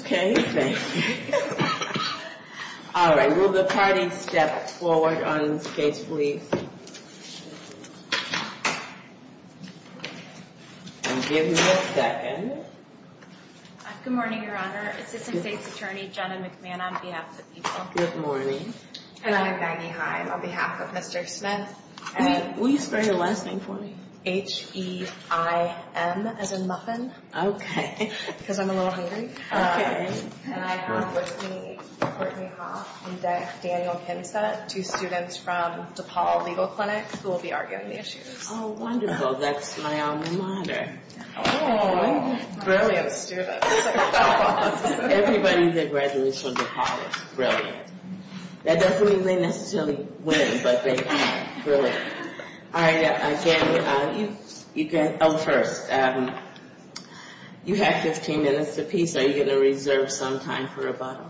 Okay. All right. Will the party step forward on this case, please? And give me a second. Good morning, Your Honor. Assistant State's Attorney Jenna McMahon on behalf of the people. Good morning. And I'm Maggie Heim on behalf of Mr. Smith. Will you spell your last name for me? H-E-I-M as in muffin. Okay. Because I'm a little hungry. And I have with me Courtney Hoff and Daniel Kinsett, two students from DePaul Legal Clinic, who will be arguing the issues. Oh, wonderful. That's my alma mater. Oh, brilliant students. Everybody that graduated from DePaul is brilliant. That doesn't mean they necessarily win, but they have. Brilliant. All right. Again, you can go first. You have 15 minutes apiece. Are you going to reserve some time for rebuttal?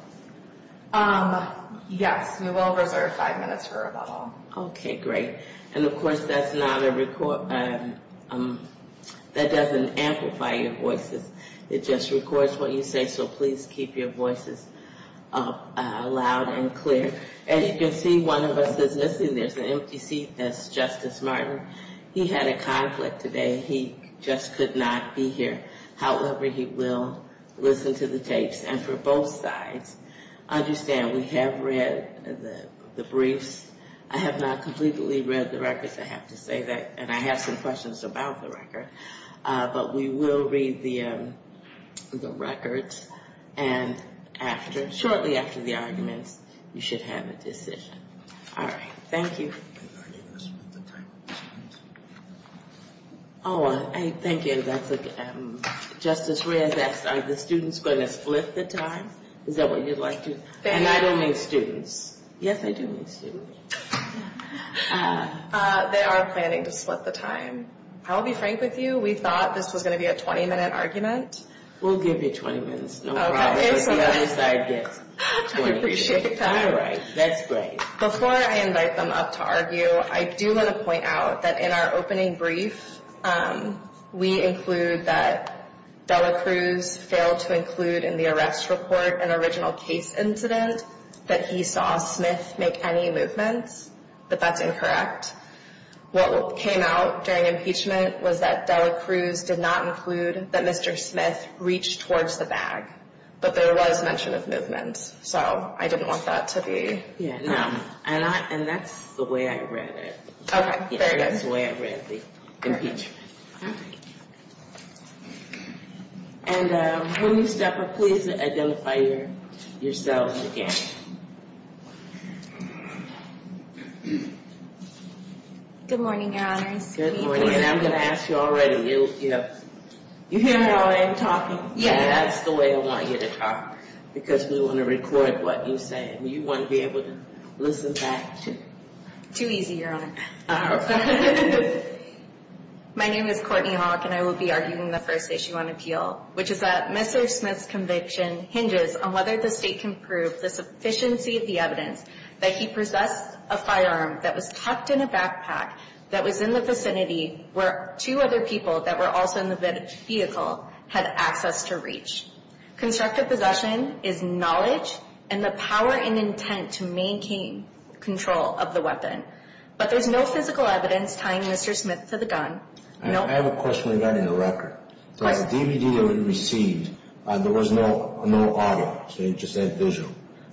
Yes, we will reserve five minutes for rebuttal. Okay, great. And, of course, that doesn't amplify your voices. It just records what you say, so please keep your voices loud and clear. As you can see, one of us is missing. There's an empty seat. That's Justice Martin. He had a conflict today. He just could not be here. However, he will listen to the tapes. And for both sides, understand we have read the briefs. I have not completely read the records. I have to say that. And I have some questions about the record. But we will read the records. And shortly after the arguments, you should have a decision. All right. Thank you. Are you going to split the time? Oh, thank you. Justice Reyes asked, are the students going to split the time? Is that what you'd like to? And I don't mean students. Yes, I do mean students. They are planning to split the time. I'll be frank with you. We thought this was going to be a 20-minute argument. We'll give you 20 minutes. No problem. If the other side gets 20 minutes. I appreciate that. All right. That's great. Before I invite them up to argue, I do want to point out that in our opening brief, we include that Dela Cruz failed to include in the arrest report an original case incident, that he saw Smith make any movements, that that's incorrect. What came out during impeachment was that Dela Cruz did not include that Mr. Smith reached towards the bag. But there was mention of movements. So I didn't want that to be. Yeah, no. And that's the way I read it. Okay. Very good. That's the way I read the impeachment. All right. And when you step up, please identify yourselves again. Good morning, Your Honors. Good morning. And I'm going to ask you already. You hear how I am talking? Yeah. That's the way I want you to talk because we want to record what you say. And you want to be able to listen back to. Too easy, Your Honor. My name is Courtney Hawk, and I will be arguing the first issue on appeal, which is that Mr. Smith's conviction hinges on whether the state can prove the sufficiency of the evidence that he possessed a firearm that was tucked in a backpack that was in the vicinity where two other people that were also in the vehicle had access to reach. Constructive possession is knowledge and the power and intent to maintain control of the weapon. But there's no physical evidence tying Mr. Smith to the gun. I have a question regarding the record. The DVD that we received, there was no audio. It just said visual.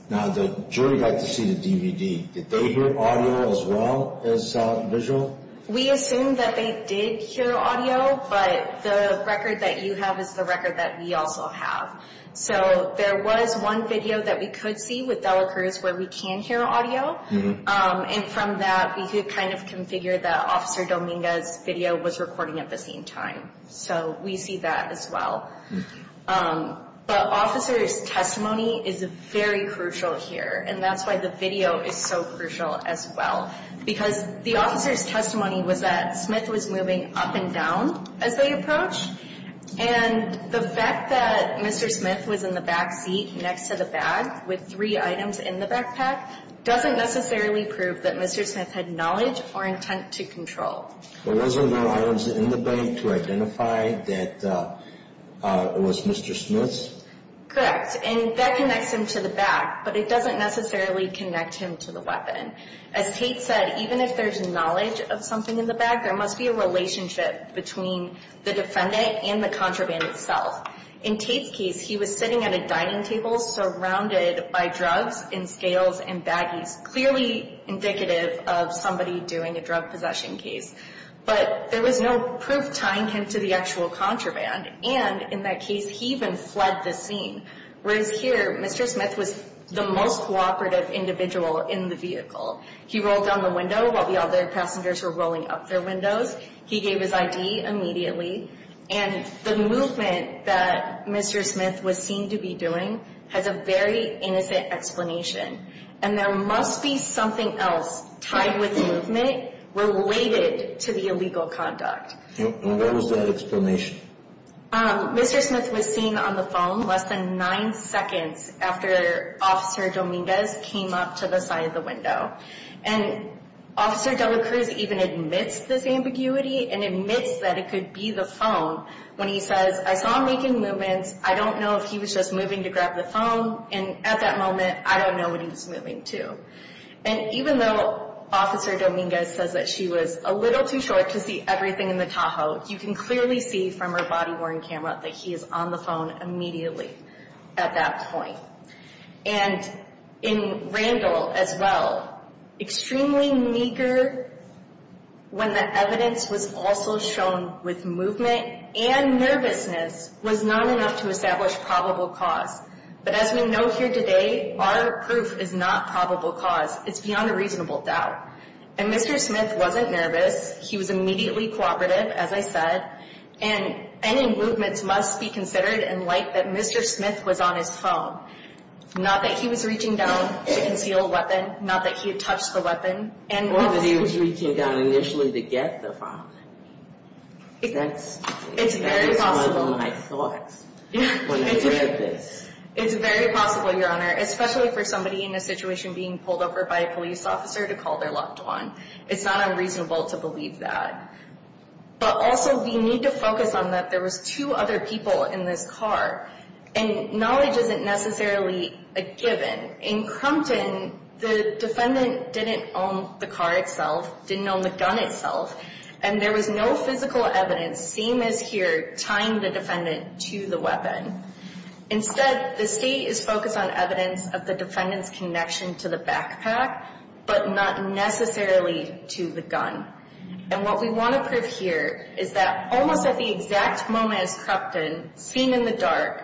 Now the jury got to see the DVD. Did they hear audio as well as visual? We assume that they did hear audio, but the record that you have is the record that we also have. So there was one video that we could see with Delacruz where we can hear audio. And from that, we could kind of configure that Officer Dominguez's video was recording at the same time. So we see that as well. But officer's testimony is very crucial here, and that's why the video is so crucial as well. Because the officer's testimony was that Smith was moving up and down as they approached, and the fact that Mr. Smith was in the back seat next to the bag with three items in the backpack doesn't necessarily prove that Mr. Smith had knowledge or intent to control. But wasn't there items in the bag to identify that it was Mr. Smith's? Correct. And that connects him to the bag, but it doesn't necessarily connect him to the weapon. As Tate said, even if there's knowledge of something in the bag, there must be a relationship between the defendant and the contraband itself. In Tate's case, he was sitting at a dining table surrounded by drugs and scales and baggies, clearly indicative of somebody doing a drug possession case. But there was no proof tying him to the actual contraband, and in that case, he even fled the scene. Whereas here, Mr. Smith was the most cooperative individual in the vehicle. He rolled down the window while the other passengers were rolling up their windows. He gave his ID immediately. And the movement that Mr. Smith was seen to be doing has a very innocent explanation. And there must be something else tied with the movement related to the illegal conduct. And what was that explanation? Mr. Smith was seen on the phone less than nine seconds after Officer Dominguez came up to the side of the window. And Officer De La Cruz even admits this ambiguity and admits that it could be the phone when he says, I saw him making movements. I don't know if he was just moving to grab the phone. And at that moment, I don't know what he was moving to. And even though Officer Dominguez says that she was a little too short to see everything in the Tahoe, you can clearly see from her body-worn camera that he is on the phone immediately at that point. And in Randall as well, extremely meager when the evidence was also shown with movement and nervousness was not enough to establish probable cause. But as we know here today, our proof is not probable cause. It's beyond a reasonable doubt. And Mr. Smith wasn't nervous. He was immediately cooperative, as I said. And any movements must be considered in light that Mr. Smith was on his phone. Not that he was reaching down to conceal a weapon, not that he had touched the weapon. Or that he was reaching down initially to get the phone. That's one of my thoughts when I read this. It's very possible, Your Honor, especially for somebody in a situation being pulled over by a police officer to call their locked on. It's not unreasonable to believe that. But also we need to focus on that there was two other people in this car. And knowledge isn't necessarily a given. In Crumpton, the defendant didn't own the car itself, didn't own the gun itself. And there was no physical evidence, same as here, tying the defendant to the weapon. Instead, the state is focused on evidence of the defendant's connection to the backpack, but not necessarily to the gun. And what we want to prove here is that almost at the exact moment as Crumpton, seen in the dark,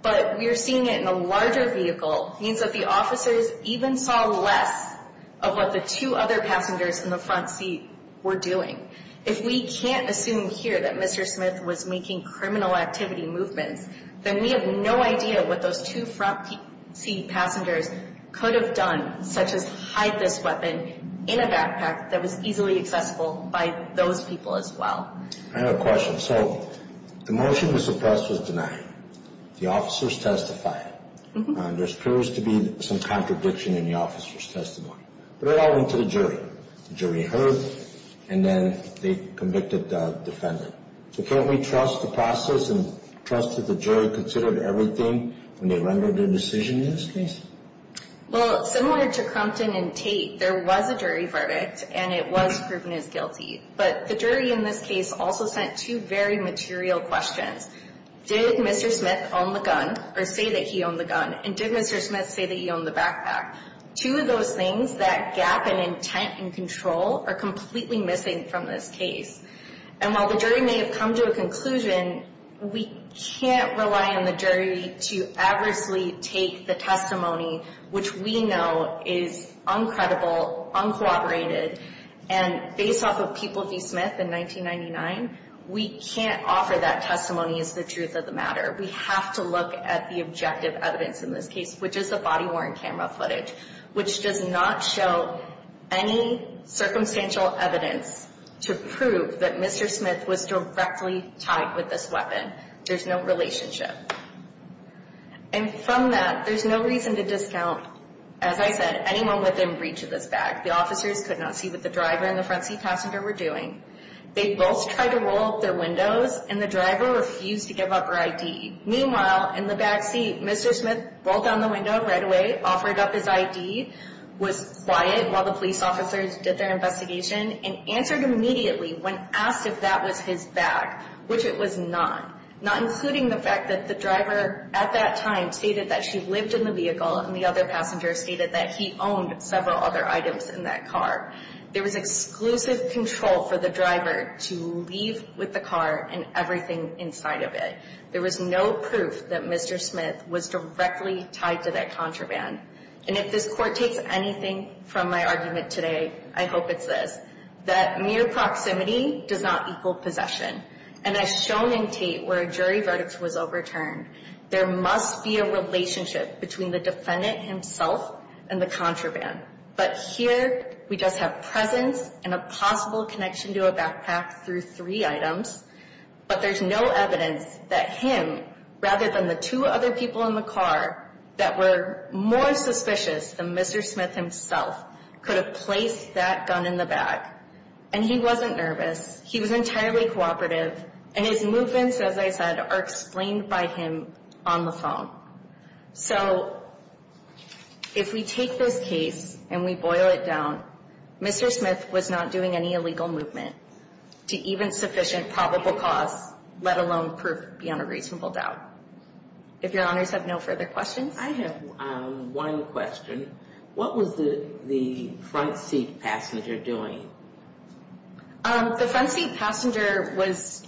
but we're seeing it in a larger vehicle, means that the officers even saw less of what the two other passengers in the front seat were doing. If we can't assume here that Mr. Smith was making criminal activity movements, then we have no idea what those two front seat passengers could have done, such as hide this weapon in a backpack that was easily accessible by those people as well. I have a question. So the motion to suppress was denied. The officers testified. There appears to be some contradiction in the officers' testimony. But it all went to the jury. The jury heard, and then they convicted the defendant. So can't we trust the process and trust that the jury considered everything when they rendered their decision in this case? Well, similar to Crumpton and Tate, there was a jury verdict, and it was proven as guilty. But the jury in this case also sent two very material questions. Did Mr. Smith own the gun or say that he owned the gun? And did Mr. Smith say that he owned the backpack? Two of those things, that gap in intent and control, are completely missing from this case. And while the jury may have come to a conclusion, we can't rely on the jury to adversely take the testimony, which we know is uncredible, uncooperated, and based off of people v. Smith in 1999, we can't offer that testimony as the truth of the matter. We have to look at the objective evidence in this case, which is the body-worn camera footage, which does not show any circumstantial evidence to prove that Mr. Smith was directly tied with this weapon. There's no relationship. And from that, there's no reason to discount, as I said, anyone within reach of this bag. The officers could not see what the driver and the front seat passenger were doing. They both tried to roll up their windows, and the driver refused to give up her ID. Meanwhile, in the back seat, Mr. Smith rolled down the window right away, offered up his ID, was quiet while the police officers did their investigation, and answered immediately when asked if that was his bag, which it was not, not including the fact that the driver at that time stated that she lived in the vehicle, and the other passenger stated that he owned several other items in that car. There was exclusive control for the driver to leave with the car and everything inside of it. There was no proof that Mr. Smith was directly tied to that contraband. And if this Court takes anything from my argument today, I hope it's this, that mere proximity does not equal possession. And as shown in Tate, where a jury verdict was overturned, there must be a relationship between the defendant himself and the contraband. But here, we just have presence and a possible connection to a backpack through three items, but there's no evidence that him, rather than the two other people in the car that were more suspicious than Mr. Smith himself, could have placed that gun in the bag. And he wasn't nervous. He was entirely cooperative. And his movements, as I said, are explained by him on the phone. So, if we take this case and we boil it down, Mr. Smith was not doing any illegal movement to even sufficient probable cause, let alone proof beyond a reasonable doubt. If Your Honors have no further questions. I have one question. What was the front seat passenger doing? The front seat passenger was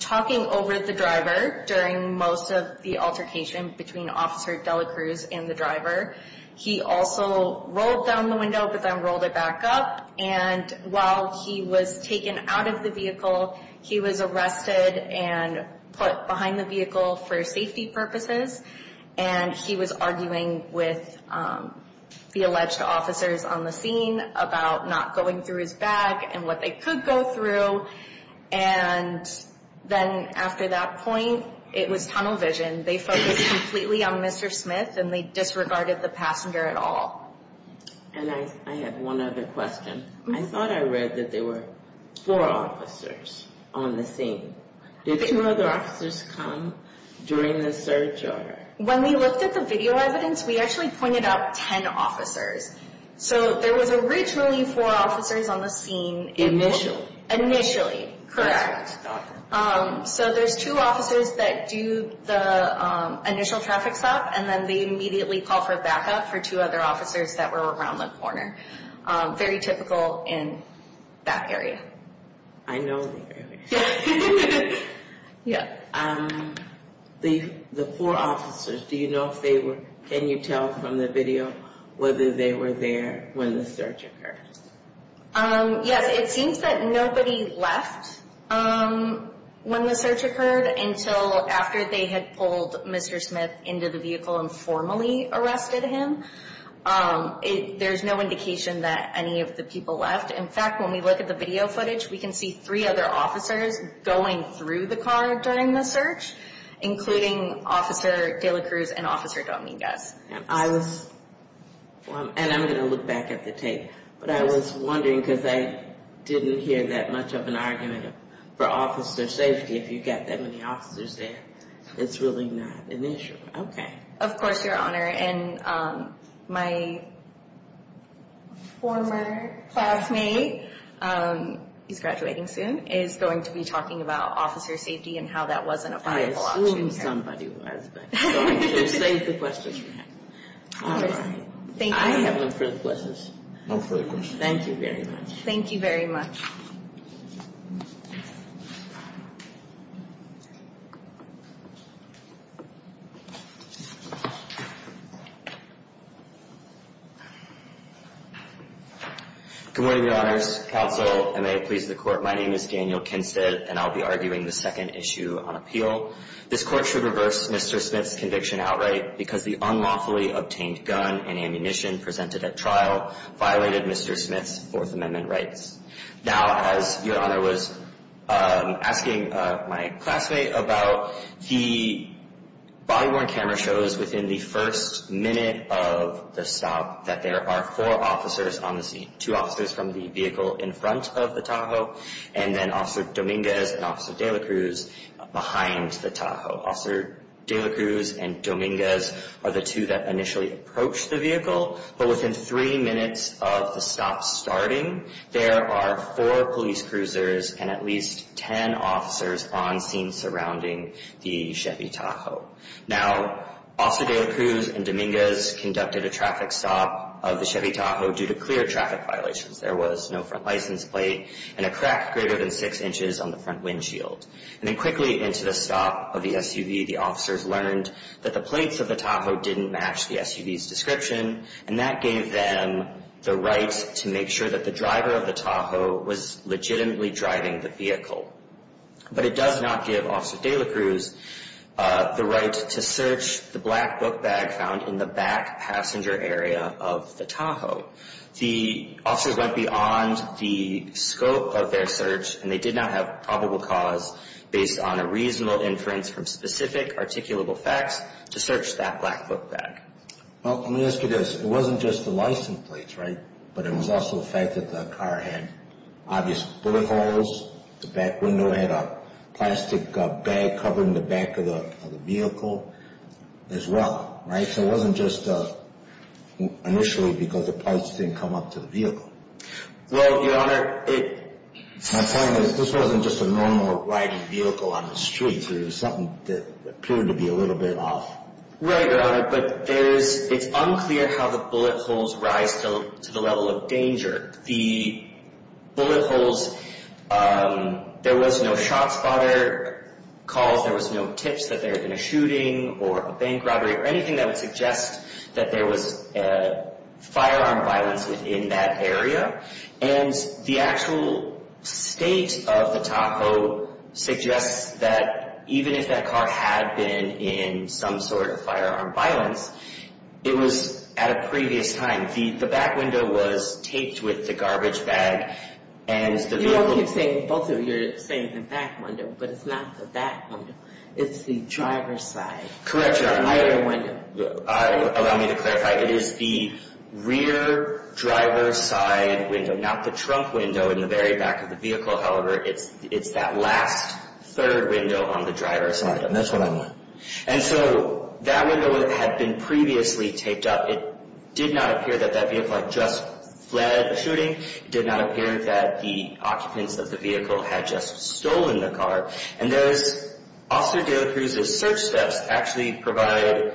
talking over the driver during most of the altercation between Officer Dela Cruz and the driver. He also rolled down the window, but then rolled it back up. And while he was taken out of the vehicle, he was arrested and put behind the vehicle for safety purposes. And he was arguing with the alleged officers on the scene about not going through his bag and what they could go through. And then after that point, it was tunnel vision. They focused completely on Mr. Smith and they disregarded the passenger at all. And I have one other question. I thought I read that there were four officers on the scene. Did two other officers come during the search? When we looked at the video evidence, we actually pointed out ten officers. So, there was originally four officers on the scene. Initially. Initially, correct. So, there's two officers that do the initial traffic stop and then they immediately call for backup for two other officers that were around the corner. Very typical in that area. I know that area. The four officers, do you know if they were, can you tell from the video whether they were there when the search occurred? Yes, it seems that nobody left when the search occurred until after they had pulled Mr. Smith into the vehicle and formally arrested him. There's no indication that any of the people left. In fact, when we look at the video footage, we can see three other officers going through the car during the search, including Officer De La Cruz and Officer Dominguez. I was, and I'm going to look back at the tape, but I was wondering because I didn't hear that much of an argument for officer safety if you've got that many officers there. It's really not an issue. Okay. Of course, Your Honor, and my former classmate, he's graduating soon, is going to be talking about officer safety and how that wasn't a viable option. I don't know who somebody was, but I'm going to save the questions for him. All right. Thank you. I haven't looked for the questions. No further questions. Thank you very much. Thank you very much. Good morning, Your Honors. Counsel, and may it please the Court. My name is Daniel Kinstead, and I'll be arguing the second issue on appeal. This Court should reverse Mr. Smith's conviction outright because the unlawfully obtained gun and ammunition presented at trial violated Mr. Smith's Fourth Amendment rights. Now, as Your Honor was asking my classmate about, the body-worn camera shows within the first minute of the stop that there are four officers on the scene, two officers from the vehicle in front of the Tahoe, and then Officer Dominguez and Officer de la Cruz behind the Tahoe. Officer de la Cruz and Dominguez are the two that initially approached the vehicle, but within three minutes of the stop starting, there are four police cruisers and at least ten officers on scene surrounding the Chevy Tahoe. Now, Officer de la Cruz and Dominguez conducted a traffic stop of the Chevy Tahoe due to clear traffic violations. There was no front license plate and a crack greater than six inches on the front windshield. And then quickly into the stop of the SUV, the officers learned that the plates of the Tahoe didn't match the SUV's description, and that gave them the right to make sure that the driver of the Tahoe was legitimately driving the vehicle. But it does not give Officer de la Cruz the right to search the black book bag found in the back passenger area of the Tahoe. The officers went beyond the scope of their search, and they did not have probable cause based on a reasonable inference from specific articulable facts to search that black book bag. Well, let me ask you this. It wasn't just the license plates, right? But it was also the fact that the car had obvious bullet holes, the back window had a plastic bag covering the back of the vehicle as well, right? So it wasn't just initially because the plates didn't come up to the vehicle. Well, Your Honor, it— My point is this wasn't just a normal riding vehicle on the street. There was something that appeared to be a little bit off. Right, Your Honor, but it's unclear how the bullet holes rise to the level of danger. The bullet holes, there was no shot spotter calls, there was no tips that there had been a shooting or a bank robbery or anything that would suggest that there was firearm violence within that area. And the actual state of the Tahoe suggests that even if that car had been in some sort of firearm violence, it was at a previous time. The back window was taped with the garbage bag and the vehicle— You all keep saying—both of you are saying the back window, but it's not the back window. It's the driver's side. Correct, Your Honor. The rear window. Allow me to clarify. It is the rear driver's side window, not the trunk window in the very back of the vehicle, however. It's that last third window on the driver's side. And that's what I meant. And so that window had been previously taped up. It did not appear that that vehicle had just fled a shooting. It did not appear that the occupants of the vehicle had just stolen the car. And Officer De La Cruz's search steps actually provide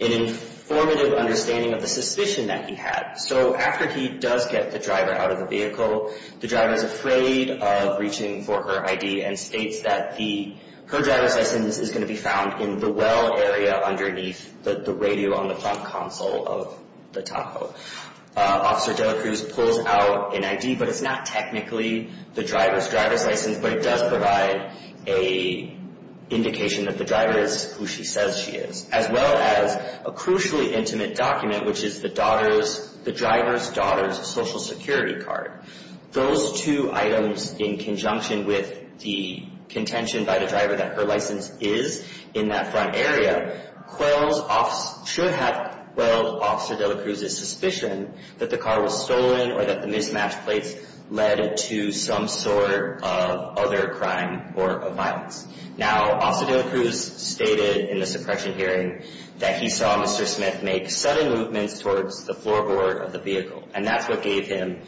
an informative understanding of the suspicion that he had. So after he does get the driver out of the vehicle, the driver is afraid of reaching for her ID and states that her driver's license is going to be found in the well area underneath the radio on the front console of the Tahoe. Officer De La Cruz pulls out an ID, but it's not technically the driver's driver's license, but it does provide an indication that the driver is who she says she is, as well as a crucially intimate document, which is the driver's daughter's Social Security card. Those two items in conjunction with the contention by the driver that her license is in that front area should have quelled Officer De La Cruz's suspicion that the car was stolen or that the mismatched plates led to some sort of other crime or violence. Now, Officer De La Cruz stated in the suppression hearing that he saw Mr. Smith make sudden movements towards the floorboard of the vehicle, and that's what gave him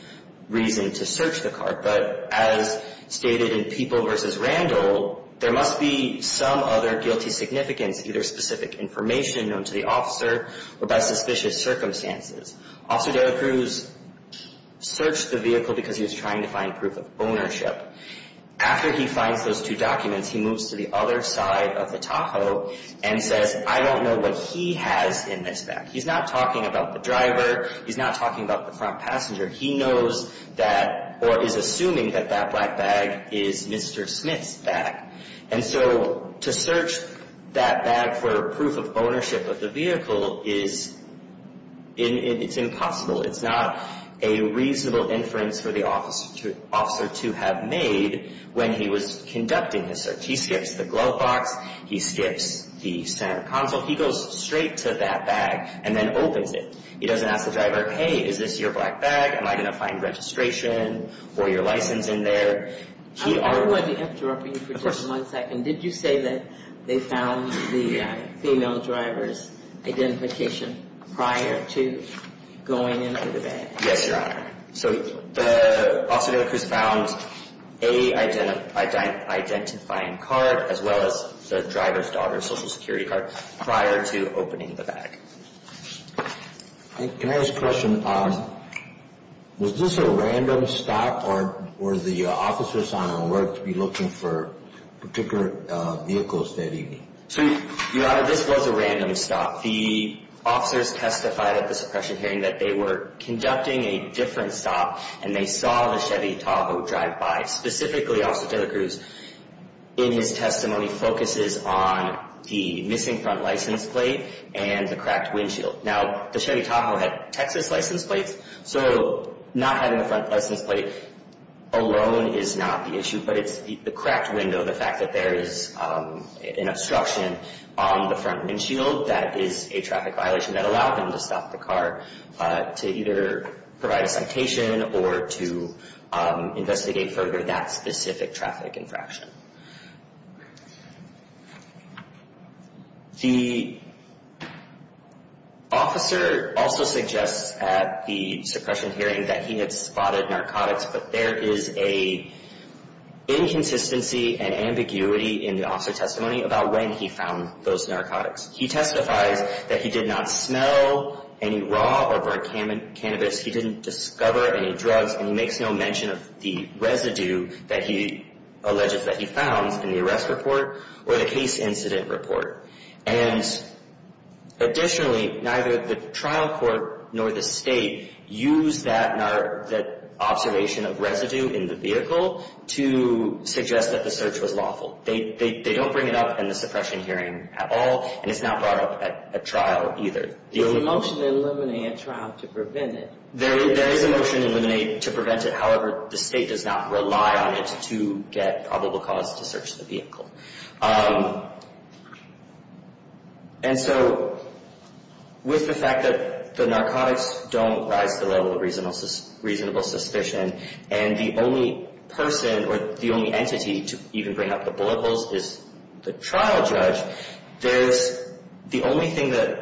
reason to search the car. But as stated in People v. Randall, there must be some other guilty significance, either specific information known to the officer or by suspicious circumstances. Officer De La Cruz searched the vehicle because he was trying to find proof of ownership. After he finds those two documents, he moves to the other side of the Tahoe and says, I don't know what he has in this bag. He's not talking about the driver. He's not talking about the front passenger. He knows that or is assuming that that black bag is Mr. Smith's bag. And so to search that bag for proof of ownership of the vehicle is impossible. It's not a reasonable inference for the officer to have made when he was conducting the search. He skips the glove box. He skips the center console. He goes straight to that bag and then opens it. He doesn't ask the driver, hey, is this your black bag? Am I going to find registration or your license in there? He already – I want to interrupt you for just one second. Did you say that they found the female driver's identification prior to going into the bag? Yes, Your Honor. So the officer found an identifying card as well as the driver's daughter's Social Security card prior to opening the bag. Can I ask a question? Was this a random stop or were the officers on alert to be looking for particular vehicles that evening? So, Your Honor, this was a random stop. The officers testified at the suppression hearing that they were conducting a different stop and they saw the Chevy Tahoe drive by. Specifically, Officer Taylor Cruz, in his testimony, focuses on the missing front license plate and the cracked windshield. Now, the Chevy Tahoe had Texas license plates, so not having the front license plate alone is not the issue, but it's the cracked window, the fact that there is an obstruction on the front windshield, that is a traffic violation that allowed them to stop the car to either provide a citation or to investigate further that specific traffic infraction. The officer also suggests at the suppression hearing that he had spotted narcotics, but there is an inconsistency and ambiguity in the officer's testimony about when he found those narcotics. He testifies that he did not smell any raw or burnt cannabis, he didn't discover any drugs, and he makes no mention of the residue that he alleges that he found in the arrest report or the case incident report. And additionally, neither the trial court nor the state use that observation of residue in the vehicle to suggest that the search was lawful. They don't bring it up in the suppression hearing at all, and it's not brought up at trial either. There is a motion to eliminate a trial to prevent it. There is a motion to eliminate, to prevent it. However, the state does not rely on it to get probable cause to search the vehicle. And so with the fact that the narcotics don't rise to the level of reasonable suspicion and the only person or the only entity to even bring up the bullet holes is the trial judge, the only thing that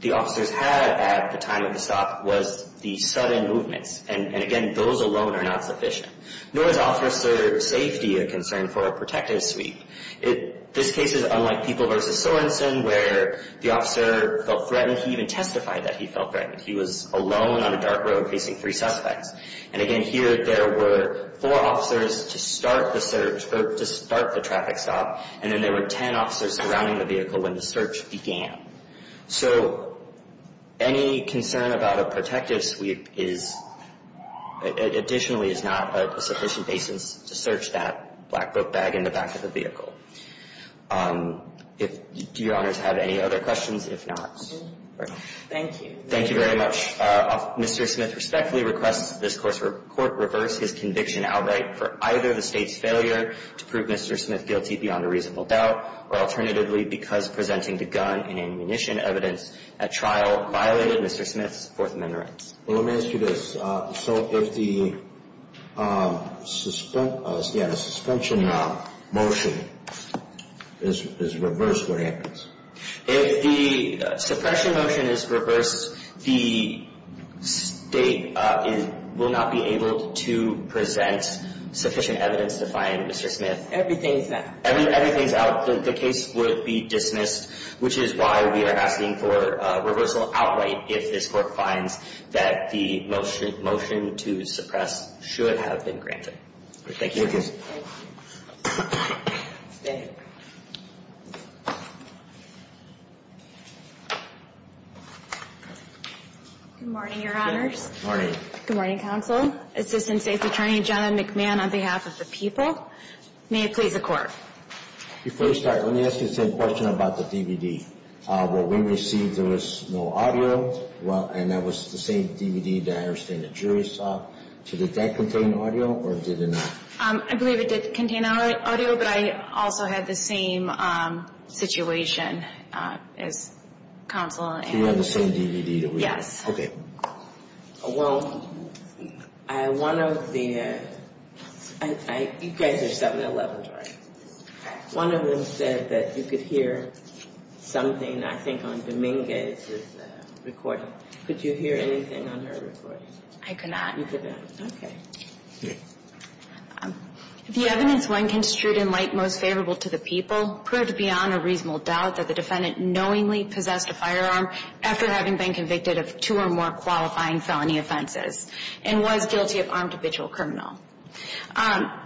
the officers had at the time of the stop was the sudden movements. And again, those alone are not sufficient. Nor is officer safety a concern for a protective sweep. This case is unlike People v. Sorensen where the officer felt threatened. He even testified that he felt threatened. He was alone on a dark road facing three suspects. And again, here there were four officers to start the search or to start the traffic stop, and then there were 10 officers surrounding the vehicle when the search began. So any concern about a protective sweep is, additionally, is not a sufficient basis to search that black book bag in the back of the vehicle. Do Your Honors have any other questions? If not, we're done. Thank you. Thank you very much. Mr. Smith respectfully requests that this Court reverse his conviction outright for either the State's failure to prove Mr. Smith guilty beyond a reasonable doubt or alternatively because presenting the gun and ammunition evidence at trial violated Mr. Smith's Fourth Amendment rights. Well, let me ask you this. So if the suspension motion is reversed, what happens? If the suppression motion is reversed, the State will not be able to present sufficient evidence to find Mr. Smith. Everything is out. Everything is out. The case would be dismissed, which is why we are asking for reversal outright if this Court finds that the motion to suppress should have been granted. Thank you. Thank you. Good morning, Your Honors. Good morning. Good morning, Counsel. Assistant State's Attorney, Jonathan McMahon, on behalf of the people. May it please the Court. Before we start, let me ask you the same question about the DVD. What we received, there was no audio, and that was the same DVD that I understand the jury saw. So did that contain audio or did it not? I believe it did contain audio, but I also had the same situation as Counsel. So you have the same DVD that we have? Yes. Okay. Well, one of the – you guys are 7-11, right? Correct. One of them said that you could hear something, I think, on Dominguez's recording. Could you hear anything on her recording? I could not. You could not. Okay. The evidence when construed in light most favorable to the people proved beyond a reasonable doubt that the defendant knowingly possessed a firearm after having been convicted of two or more qualifying felony offenses and was guilty of armed habitual criminal.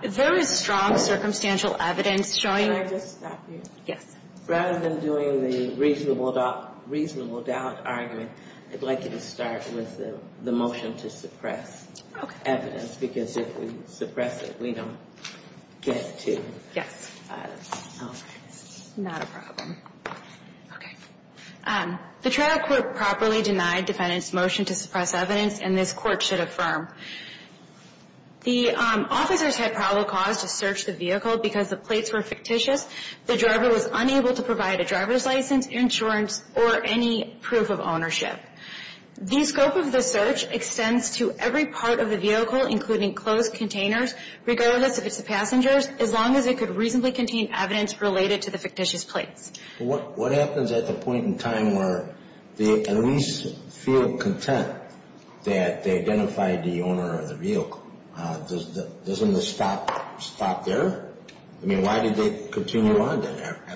There is strong circumstantial evidence showing – Can I just stop you? Yes. Rather than doing the reasonable doubt argument, I'd like you to start with the motion to suppress evidence, because if we suppress it, we don't get to – Okay. Not a problem. Okay. The trial court properly denied defendant's motion to suppress evidence, and this court should affirm. The officers had probable cause to search the vehicle because the plates were fictitious. The driver was unable to provide a driver's license, insurance, or any proof of The scope of the search extends to every part of the vehicle, including closed containers, regardless if it's the passengers, as long as it could reasonably contain evidence related to the fictitious plates. What happens at the point in time where they at least feel content that they identified the owner of the vehicle? Doesn't the stop stop there? I mean, why did they continue on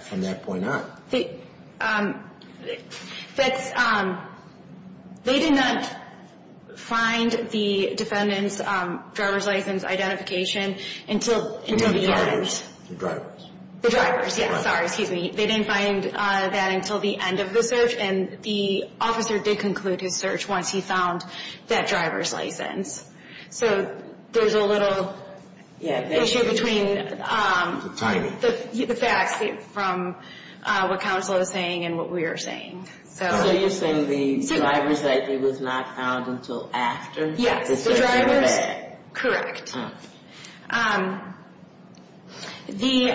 from that point on? They did not find the defendant's driver's license identification until – The drivers. The drivers. The drivers, yes. Sorry, excuse me. They didn't find that until the end of the search, and the officer did conclude his search once he found that driver's license. So there's a little issue between the facts from what counsel is saying and what we are saying. So you're saying the driver's license was not found until after the search? Yes. The drivers? Correct. So the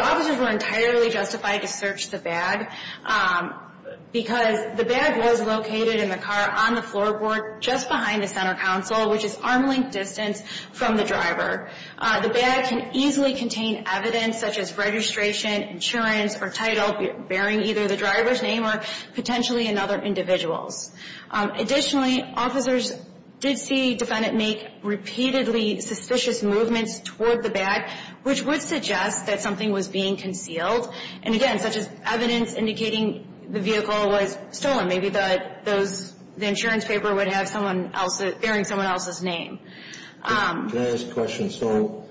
officers were entirely justified to search the bag because the bag was located in the car on the floorboard just behind the center console, which is arm length distance from the driver. The bag can easily contain evidence such as registration, insurance, or title bearing either the driver's name or potentially another individual's. Additionally, officers did see defendant make repeatedly suspicious movements toward the bag, which would suggest that something was being concealed. And again, such as evidence indicating the vehicle was stolen. Maybe the insurance paper would have bearing someone else's name. Can I ask a question? So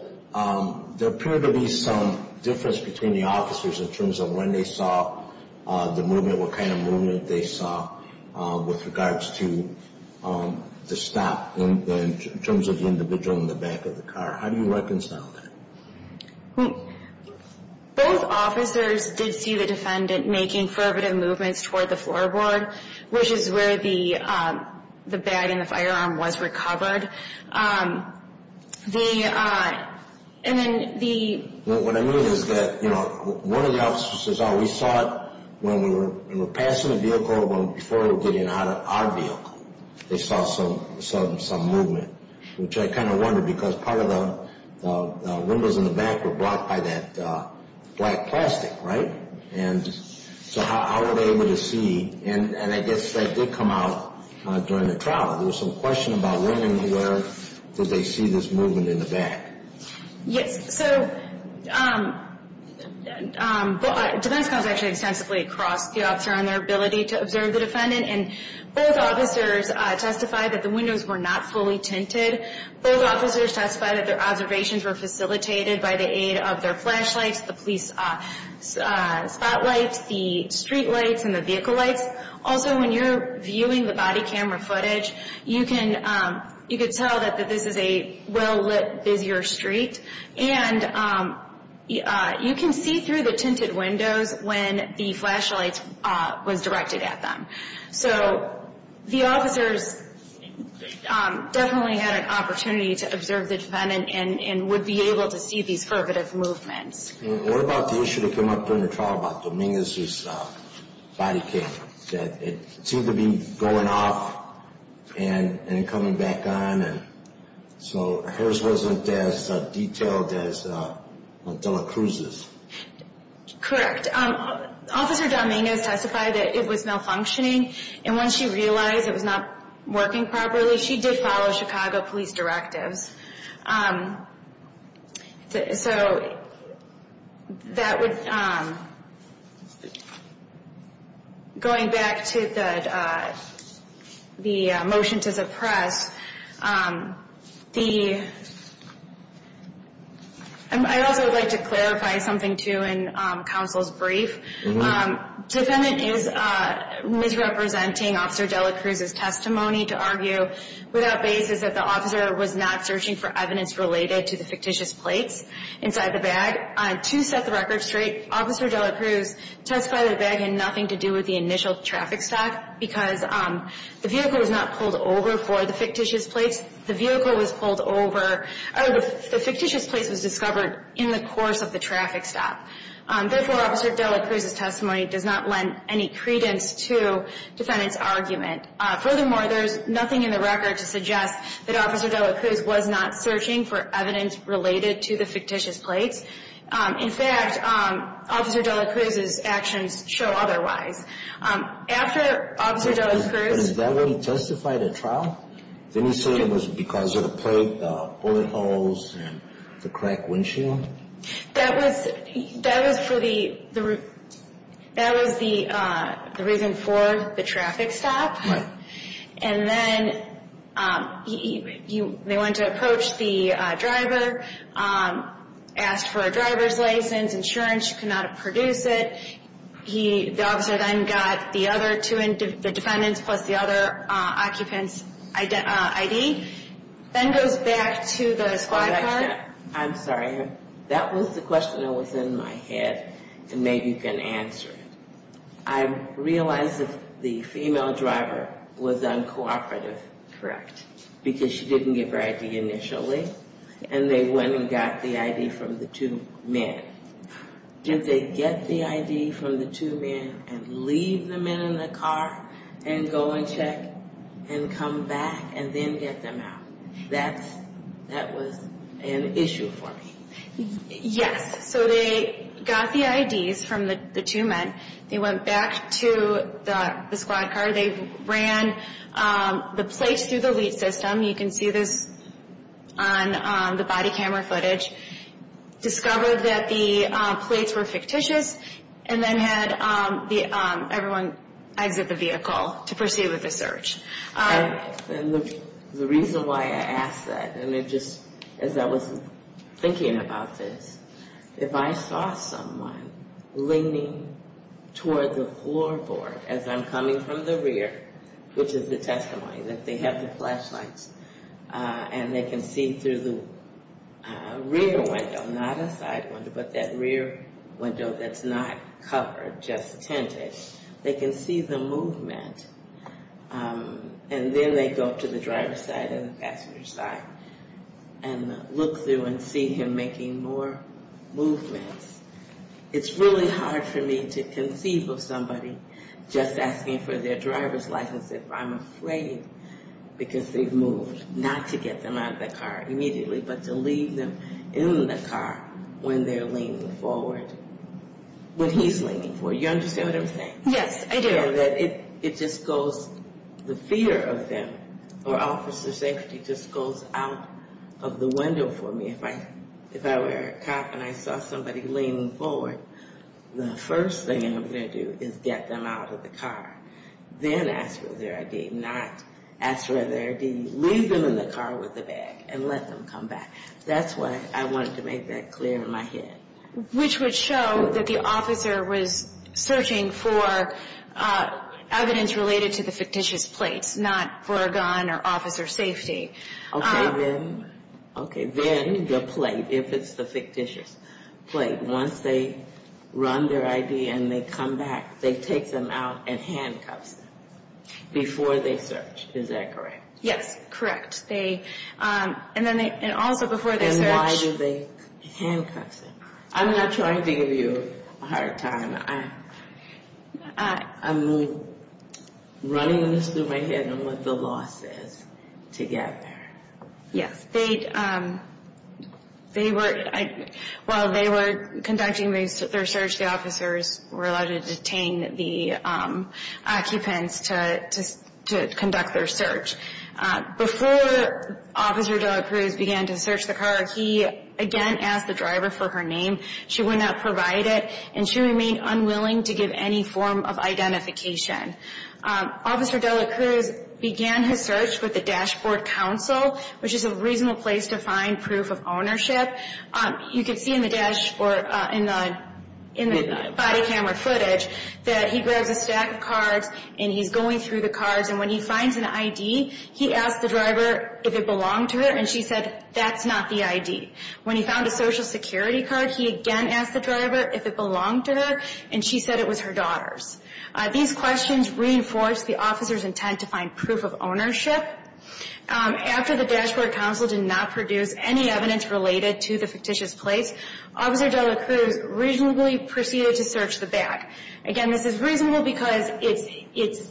there appeared to be some difference between the officers in terms of when they saw the movement, what kind of movement they saw with regards to the stop in terms of the individual in the back of the car. How do you reconcile that? Both officers did see the defendant making fervent movements toward the floorboard, which is where the bag and the firearm was recovered. What I mean is that, you know, one of the officers always saw it when we were passing the vehicle or before we were getting out of the vehicle. They saw some movement, which I kind of wondered because part of the windows in the back were blocked by that black plastic, right? And so how were they able to see? And I guess that did come out during the trial. There was some question about women, where did they see this movement in the back? Yes. So defense counsel actually extensively crossed the officer on their ability to observe the defendant. And both officers testified that the windows were not fully tinted. Both officers testified that their observations were facilitated by the aid of their flashlights, the police spotlights, the streetlights, and the vehicle lights. Also, when you're viewing the body camera footage, you can tell that this is a well-lit, busier street. And you can see through the tinted windows when the flashlight was directed at them. So the officers definitely had an opportunity to observe the defendant and would be able to see these fervent movements. What about the issue that came up during the trial about Dominguez's body camera? It seemed to be going off and coming back on. So hers wasn't as detailed as Dela Cruz's. Correct. Officer Dominguez testified that it was malfunctioning. And when she realized it was not working properly, she did follow Chicago police directives. So going back to the motion to suppress, I'd also like to clarify something, too, in counsel's brief. The defendant is misrepresenting Officer Dela Cruz's testimony to argue without basis that the officer was not searching for evidence related to the fictitious plates inside the bag. To set the record straight, Officer Dela Cruz testified that the bag had nothing to do with the initial traffic stop because the vehicle was not pulled over for the fictitious plates. The vehicle was pulled over or the fictitious plates was discovered in the course of the traffic stop. Therefore, Officer Dela Cruz's testimony does not lend any credence to defendant's argument. Furthermore, there is nothing in the record to suggest that Officer Dela Cruz was not searching for evidence related to the fictitious plates. In fact, Officer Dela Cruz's actions show otherwise. After Officer Dela Cruz But is that what he testified at trial? Didn't he say it was because of the plate bullet holes and the cracked windshield? That was the reason for the traffic stop. And then they went to approach the driver, asked for a driver's license, insurance. He could not produce it. The officer then got the defendant's plus the other occupant's ID, then goes back to the squad car. I'm sorry. That was the question that was in my head and maybe you can answer it. I realized that the female driver was uncooperative, correct, because she didn't give her ID initially. And they went and got the ID from the two men. Did they get the ID from the two men and leave the men in the car and go and check and come back and then get them out? That was an issue for me. Yes. So they got the IDs from the two men. They went back to the squad car. They ran the plates through the lead system. You can see this on the body camera footage. Discovered that the plates were fictitious and then had everyone exit the vehicle to proceed with the search. And the reason why I ask that, and it just, as I was thinking about this, if I saw someone leaning toward the floorboard as I'm coming from the rear, which is the testimony that they have the flashlights and they can see through the rear window, not a side window, but that rear window that's not covered, just tinted, they can see the movement. And then they go up to the driver's side and the passenger's side and look through and see him making more movements. It's really hard for me to conceive of somebody just asking for their driver's license if I'm afraid because they've moved, not to get them out of the car immediately, but to leave them in the car when they're leaning forward, when he's leaning forward. You understand what I'm saying? Yes, I do. It just goes, the fear of them or officer safety just goes out of the window for me. If I were a cop and I saw somebody leaning forward, the first thing I'm going to do is get them out of the car. Then ask for their ID, not ask for their ID, leave them in the car with the bag and let them come back. That's why I wanted to make that clear in my head. Which would show that the officer was searching for evidence related to the fictitious plates, not for a gun or officer safety. Okay, then the plate, if it's the fictitious plate. Once they run their ID and they come back, they take them out and handcuff them before they search. Is that correct? Yes, correct. And also before they search. And why do they handcuff them? I'm not trying to give you a hard time. I'm running this through my head on what the law says to get there. Yes, while they were conducting their search, the officers were allowed to detain the occupants to conduct their search. Before Officer Dela Cruz began to search the car, he again asked the driver for her name. She would not provide it and she remained unwilling to give any form of identification. Officer Dela Cruz began his search with the dashboard council, which is a reasonable place to find proof of ownership. You can see in the dash or in the body camera footage that he grabs a stack of cards and he's going through the cards. And when he finds an ID, he asks the driver if it belonged to her and she said that's not the ID. When he found a social security card, he again asked the driver if it belonged to her and she said it was her daughter's. These questions reinforced the officer's intent to find proof of ownership. After the dashboard council did not produce any evidence related to the fictitious place, Officer Dela Cruz reasonably proceeded to search the bag. Again, this is reasonable because it's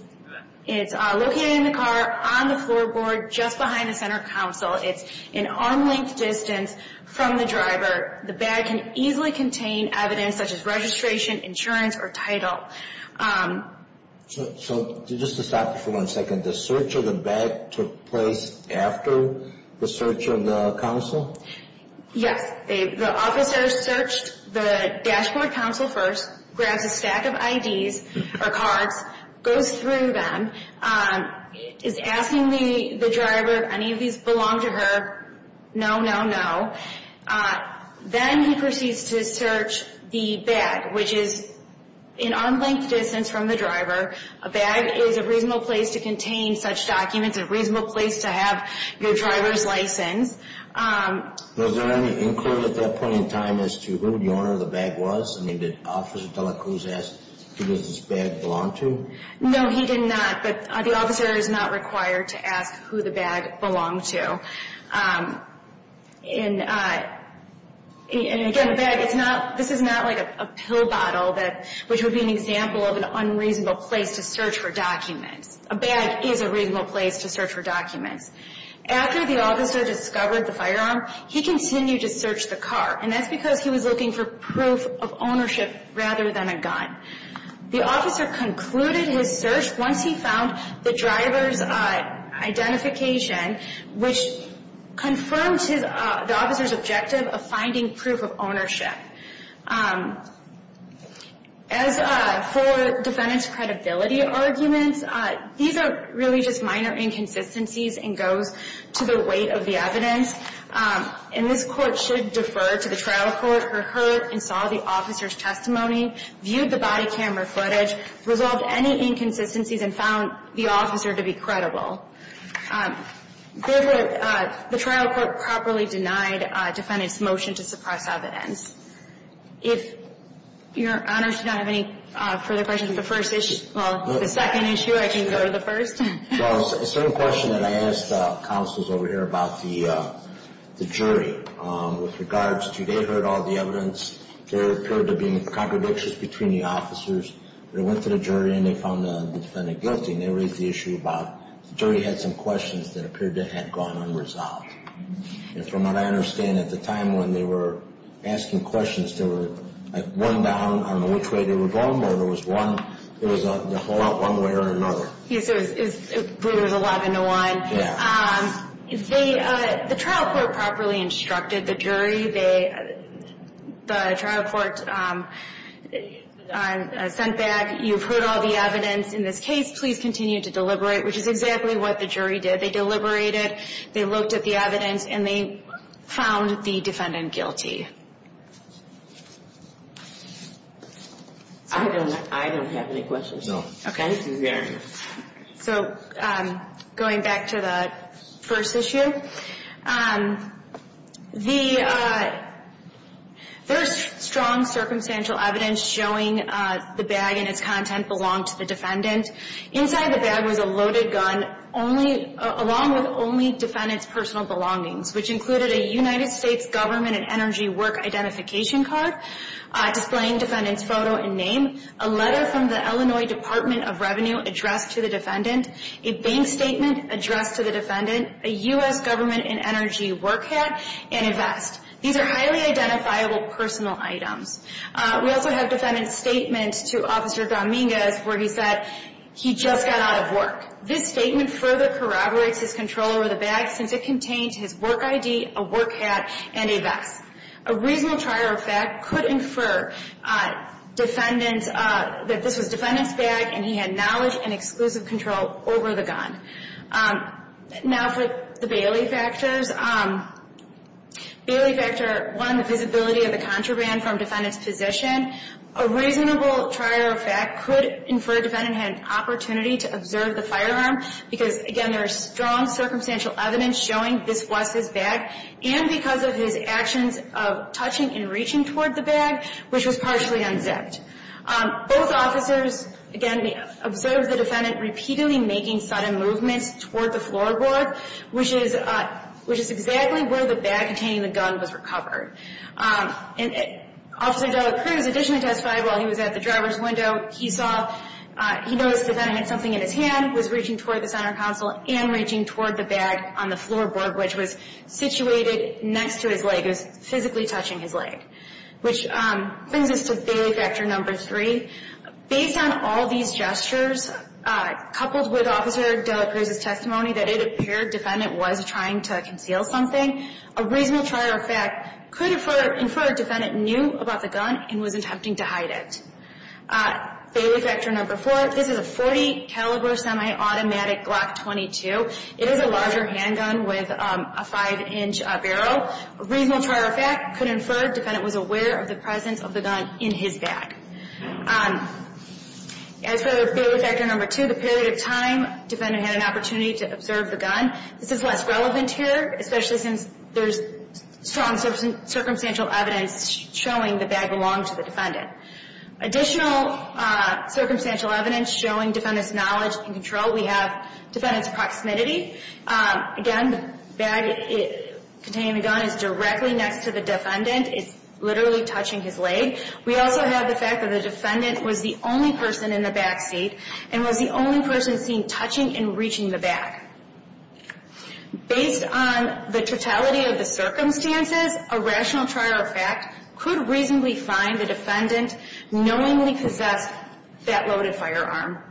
located in the car on the floorboard just behind the center council. It's an arm length distance from the driver. The bag can easily contain evidence such as registration, insurance, or title. So just to stop you for one second, the search of the bag took place after the search of the council? Yes. The officer searched the dashboard council first, grabs a stack of IDs or cards, goes through them, is asking the driver if any of these belong to her. No, no, no. Then he proceeds to search the bag, which is an arm length distance from the driver. A bag is a reasonable place to contain such documents, a reasonable place to have your driver's license. Was there any inquiry at that point in time as to who the owner of the bag was? I mean, did Officer Dela Cruz ask who does this bag belong to? No, he did not, but the officer is not required to ask who the bag belonged to. And, again, a bag, this is not like a pill bottle, which would be an example of an unreasonable place to search for documents. A bag is a reasonable place to search for documents. After the officer discovered the firearm, he continued to search the car, and that's because he was looking for proof of ownership rather than a gun. The officer concluded his search once he found the driver's identification, which confirmed the officer's objective of finding proof of ownership. As for defendant's credibility arguments, these are really just minor inconsistencies and goes to the weight of the evidence. And this court should defer to the trial court who heard and saw the officer's testimony, viewed the body camera footage, resolved any inconsistencies, and found the officer to be credible. The trial court properly denied defendant's motion to suppress evidence. If Your Honors do not have any further questions on the first issue, well, the second issue, I can go to the first. There was a certain question that I asked the counsels over here about the jury with regards to they heard all the evidence. There appeared to be contradictions between the officers. They went to the jury, and they found the defendant guilty. And they raised the issue about the jury had some questions that appeared to have gone unresolved. And from what I understand, at the time when they were asking questions, there were one down on which way they were going, or there was one that went one way or another. Yes, it was 11 to 1. Yeah. The trial court properly instructed the jury. The trial court sent back, you've heard all the evidence in this case. Please continue to deliberate, which is exactly what the jury did. They deliberated. They looked at the evidence, and they found the defendant guilty. I don't have any questions, no. Okay. Thank you, Your Honors. So going back to the first issue, the first strong circumstantial evidence showing the bag and its content belonged to the defendant. Inside the bag was a loaded gun along with only defendant's personal belongings, which included a United States government and energy work identification card displaying defendant's photo and name, a letter from the Illinois Department of Revenue addressed to the defendant, a bank statement addressed to the defendant, a U.S. government and energy work hat, and a vest. These are highly identifiable personal items. We also have defendant's statement to Officer Dominguez where he said he just got out of work. This statement further corroborates his control over the bag since it contained his work ID, a work hat, and a vest. A reasonable trier of fact could infer defendant's, that this was defendant's bag, and he had knowledge and exclusive control over the gun. Now for the Bailey factors. Bailey factor, one, the visibility of the contraband from defendant's position. A reasonable trier of fact could infer defendant had an opportunity to observe the firearm because, again, there is strong circumstantial evidence showing this was his bag. And because of his actions of touching and reaching toward the bag, which was partially unzipped. Both officers, again, observed the defendant repeatedly making sudden movements toward the floorboard, which is exactly where the bag containing the gun was recovered. And Officer Dela Cruz additionally testified while he was at the driver's window. He saw, he noticed the defendant had something in his hand, was reaching toward the center console, and reaching toward the bag on the floorboard, which was situated next to his leg. It was physically touching his leg. Which brings us to Bailey factor number three. Based on all these gestures, coupled with Officer Dela Cruz's testimony, that it appeared defendant was trying to conceal something. A reasonable trier of fact could infer defendant knew about the gun and was attempting to hide it. Bailey factor number four, this is a .40 caliber semi-automatic Glock 22. It is a larger handgun with a five-inch barrel. A reasonable trier of fact could infer defendant was aware of the presence of the gun in his bag. As for Bailey factor number two, the period of time defendant had an opportunity to observe the gun. This is less relevant here, especially since there's strong circumstantial evidence showing the bag belonged to the defendant. Additional circumstantial evidence showing defendant's knowledge and control, we have defendant's proximity. Again, the bag containing the gun is directly next to the defendant. It's literally touching his leg. We also have the fact that the defendant was the only person in the back seat and was the only person seen touching and reaching the bag. Based on the totality of the circumstances, a rational trier of fact could reasonably find the defendant knowingly possessed that loaded firearm.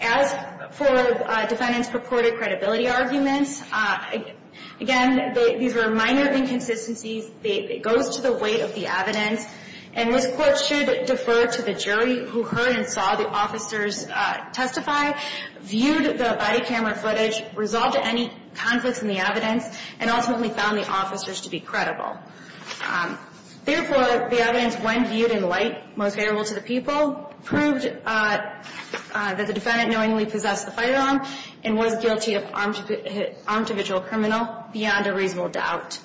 As for defendant's purported credibility arguments, again, these were minor inconsistencies. It goes to the weight of the evidence. And this Court should defer to the jury who heard and saw the officers testify, viewed the body camera footage, resolved any conflicts in the evidence, and ultimately found the officers to be credible. Therefore, the evidence, when viewed in light, most favorable to the people, proved that the defendant knowingly possessed the firearm and was guilty of armed individual criminal beyond a reasonable doubt.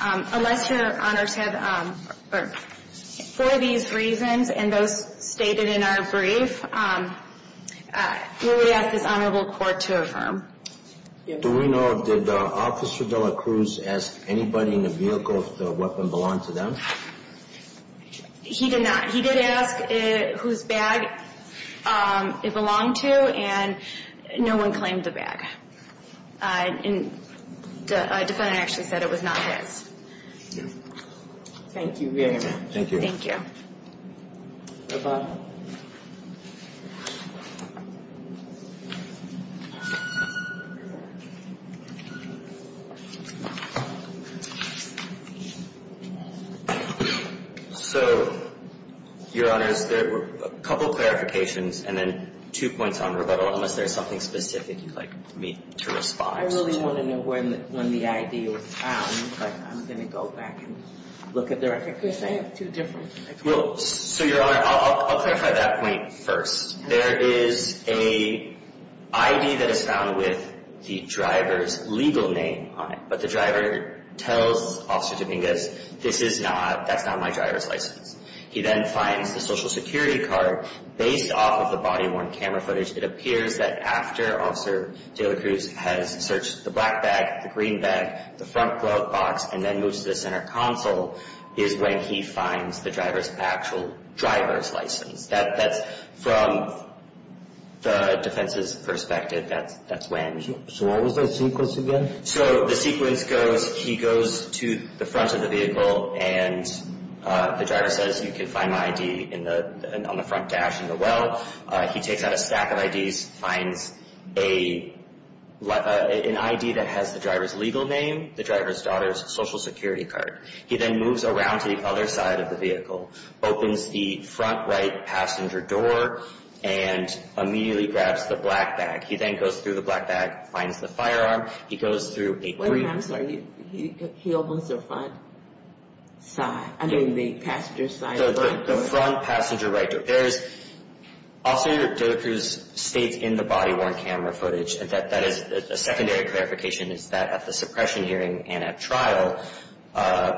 Unless Your Honors have for these reasons and those stated in our brief, we would ask this Honorable Court to affirm. Do we know, did Officer De La Cruz ask anybody in the vehicle if the weapon belonged to them? He did not. He did ask whose bag it belonged to, and no one claimed the bag. The defendant actually said it was not his. Thank you very much. Thank you. Thank you. Rebuttal. So, Your Honors, there were a couple of clarifications, and then two points on rebuttal unless there's something specific you'd like me to respond to. I really want to know when the ID was found, but I'm going to go back and look at the record. So, Your Honor, I'll clarify that point first. There is an ID that is found with the driver's legal name on it, but the driver tells Officer Dominguez, this is not, that's not my driver's license. He then finds the Social Security card. Based off of the body-worn camera footage, it appears that after Officer De La Cruz has searched the black bag, the green bag, the front glove box, and then moves to the center console, is when he finds the driver's actual driver's license. That's from the defense's perspective. That's when. So, what was the sequence again? So, the sequence goes, he goes to the front of the vehicle, and the driver says, you can find my ID on the front dash in the well. He takes out a stack of IDs, finds an ID that has the driver's legal name, the driver's daughter's Social Security card. He then moves around to the other side of the vehicle, opens the front right passenger door, and immediately grabs the black bag. He then goes through the black bag, finds the firearm. He goes through a green. Wait a minute. I'm sorry. He opens the front side, I mean the passenger side door. The front passenger right door. There is, Officer Dela Cruz states in the body-worn camera footage, that is a secondary clarification, is that at the suppression hearing and at trial,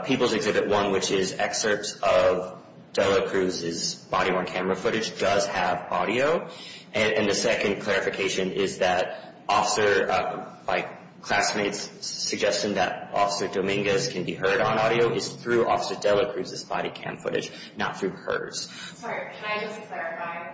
People's Exhibit 1, which is excerpts of Dela Cruz's body-worn camera footage, does have audio. And the second clarification is that officer, by classmates' suggestion that Officer Dominguez can be heard on audio, is through Officer Dela Cruz's body cam footage, not through hers. Sorry, can I just clarify?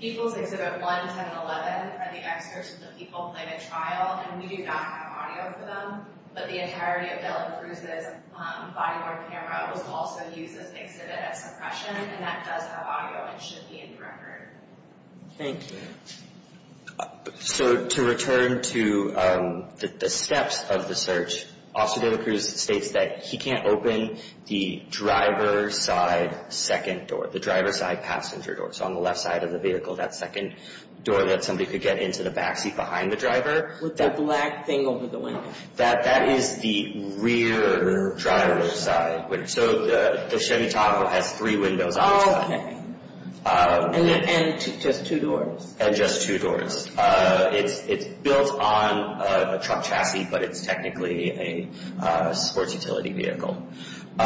People's Exhibit 1, 10, and 11 are the excerpts of the people playing at trial, and we do not have audio for them, but the entirety of Dela Cruz's body-worn camera was also used as an exhibit at suppression, and that does have audio and should be in the record. Thank you. So to return to the steps of the search, Officer Dela Cruz states that he can't open the driver's side second door, the driver's side passenger door, so on the left side of the vehicle, that second door that somebody could get into the backseat behind the driver. With that black thing over the window. That is the rear driver's side. So the Chevy Tahoe has three windows on each side. Okay, and just two doors. And just two doors. It's built on a truck chassis, but it's technically a sports utility vehicle. So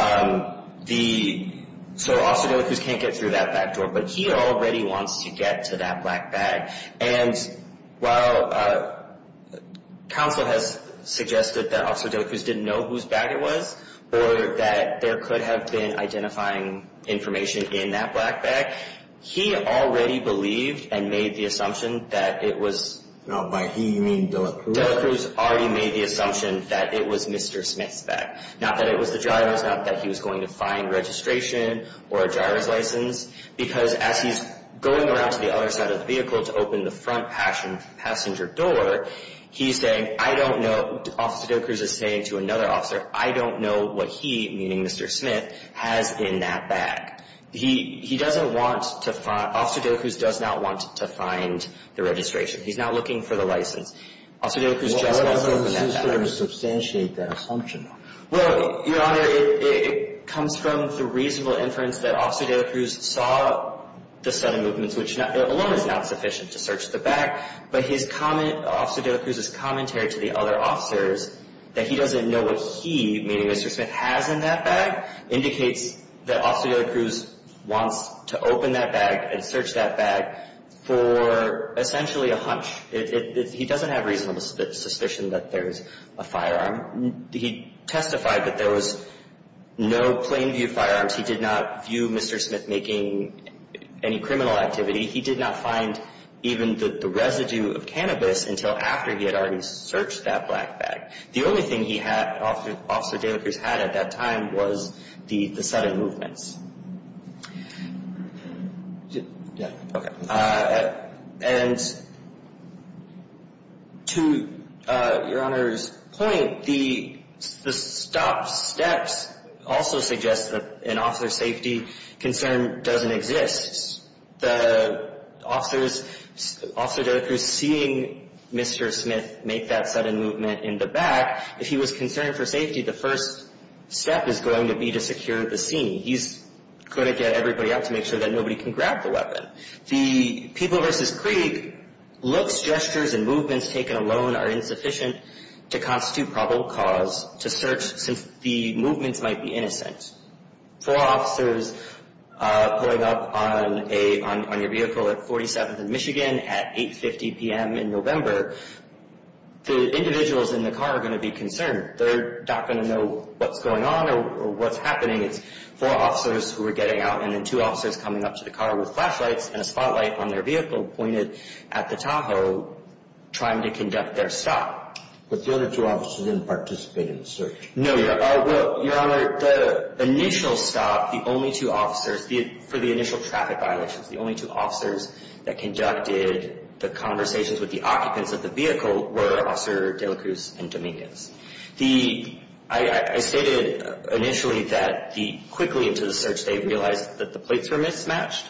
Officer Dela Cruz can't get through that back door, but he already wants to get to that black bag. And while counsel has suggested that Officer Dela Cruz didn't know whose bag it was or that there could have been identifying information in that black bag, he already believed and made the assumption that it was. No, by he, you mean Dela Cruz. Dela Cruz already made the assumption that it was Mr. Smith's bag, not that it was the driver's, not that he was going to find registration or a driver's license, because as he's going around to the other side of the vehicle to open the front passenger door, he's saying, I don't know. Officer Dela Cruz is saying to another officer, I don't know what he, meaning Mr. Smith, has in that bag. He doesn't want to find, Officer Dela Cruz does not want to find the registration. He's not looking for the license. Officer Dela Cruz just wants to open that bag. He doesn't sort of substantiate that assumption. Well, Your Honor, it comes from the reasonable inference that Officer Dela Cruz saw the sudden movements, which alone is not sufficient to search the bag. But his comment, Officer Dela Cruz's commentary to the other officers that he doesn't know what he, meaning Mr. Smith, has in that bag indicates that Officer Dela Cruz wants to open that bag and search that bag for essentially a hunch. He doesn't have reasonable suspicion that there's a firearm. He testified that there was no plain view firearms. He did not view Mr. Smith making any criminal activity. He did not find even the residue of cannabis until after he had already searched that black bag. The only thing Officer Dela Cruz had at that time was the sudden movements. And to Your Honor's point, the stop steps also suggest that an officer's safety concern doesn't exist. The officers, Officer Dela Cruz, seeing Mr. Smith make that sudden movement in the bag, if he was concerned for safety, the first step is going to be to secure the scene. He's going to get everybody out to make sure that nobody can grab the weapon. The People v. Krieg looks, gestures, and movements taken alone are insufficient to constitute probable cause to search since the movements might be innocent. For officers pulling up on your vehicle at 47th and Michigan at 8.50 p.m. in November, the individuals in the car are going to be concerned. They're not going to know what's going on or what's happening. It's four officers who are getting out and then two officers coming up to the car with flashlights and a spotlight on their vehicle pointed at the Tahoe trying to conduct their stop. But the other two officers didn't participate in the search. No, Your Honor. Well, Your Honor, the initial stop, the only two officers, for the initial traffic violations, the only two officers that conducted the conversations with the occupants of the vehicle were Officer Dela Cruz and Dominguez. I stated initially that quickly into the search they realized that the plates were mismatched.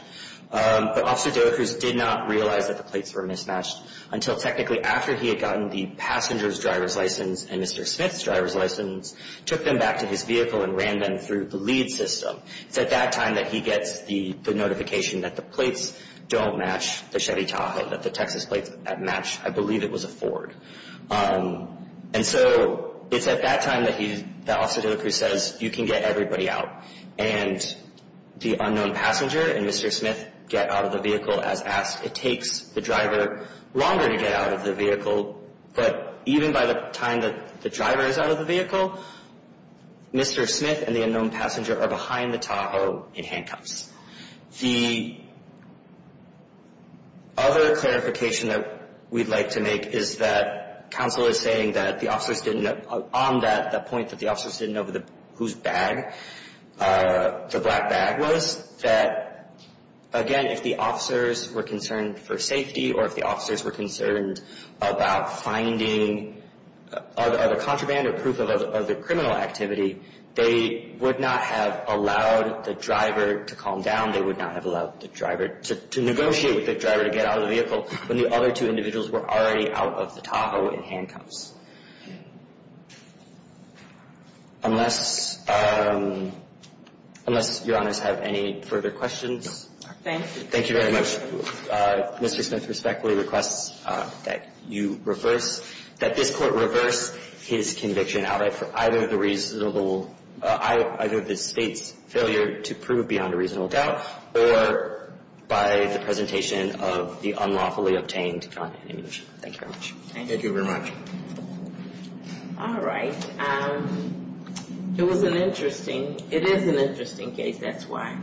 But Officer Dela Cruz did not realize that the plates were mismatched until technically after he had gotten the passenger's driver's license and Mr. Smith's driver's license, took them back to his vehicle and ran them through the lead system. It's at that time that he gets the notification that the plates don't match the Chevy Tahoe, that the Texas plates match, I believe, it was a Ford. And so it's at that time that Officer Dela Cruz says you can get everybody out and the unknown passenger and Mr. Smith get out of the vehicle as asked. It takes the driver longer to get out of the vehicle, but even by the time that the driver is out of the vehicle, Mr. Smith and the unknown passenger are behind the Tahoe in handcuffs. The other clarification that we'd like to make is that counsel is saying that the officers didn't know on that, the point that the officers didn't know whose bag the black bag was, that, again, if the officers were concerned for safety or if the officers were concerned about finding other contraband or proof of other criminal activity, they would not have allowed the driver to calm down, they would not have allowed the driver to negotiate with the driver to get out of the vehicle when the other two individuals were already out of the Tahoe in handcuffs. Unless, unless Your Honors have any further questions. Thank you. Thank you very much. Mr. Smith respectfully requests that you reverse, that this court reverse his conviction outright for either the reasonable, either the state's failure to prove beyond a reasonable doubt or by the presentation of the unlawfully obtained content and image. Thank you very much. Thank you. Thank you very much. All right. It was an interesting, it is an interesting case, that's why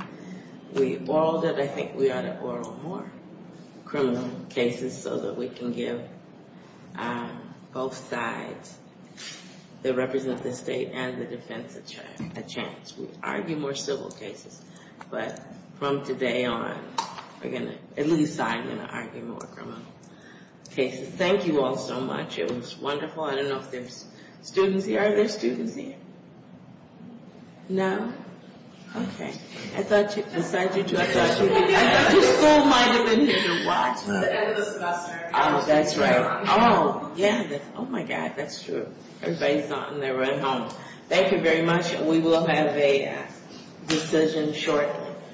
we, we auraled it, I think we ought to aural more criminal cases so that we can give both sides that represent the state and the defense a chance. We argue more civil cases, but from today on we're going to, at least I'm going to argue more criminal cases. Thank you all so much. It was wonderful. I don't know if there's students here. Are there students here? No? Okay. I thought you, besides you two, I thought you, I thought you still might have been here to watch us. At the end of the semester. Oh, that's right. Oh, yeah. Oh, my God, that's true. Everybody's not in there right now. Thank you very much. We will have a decision shortly.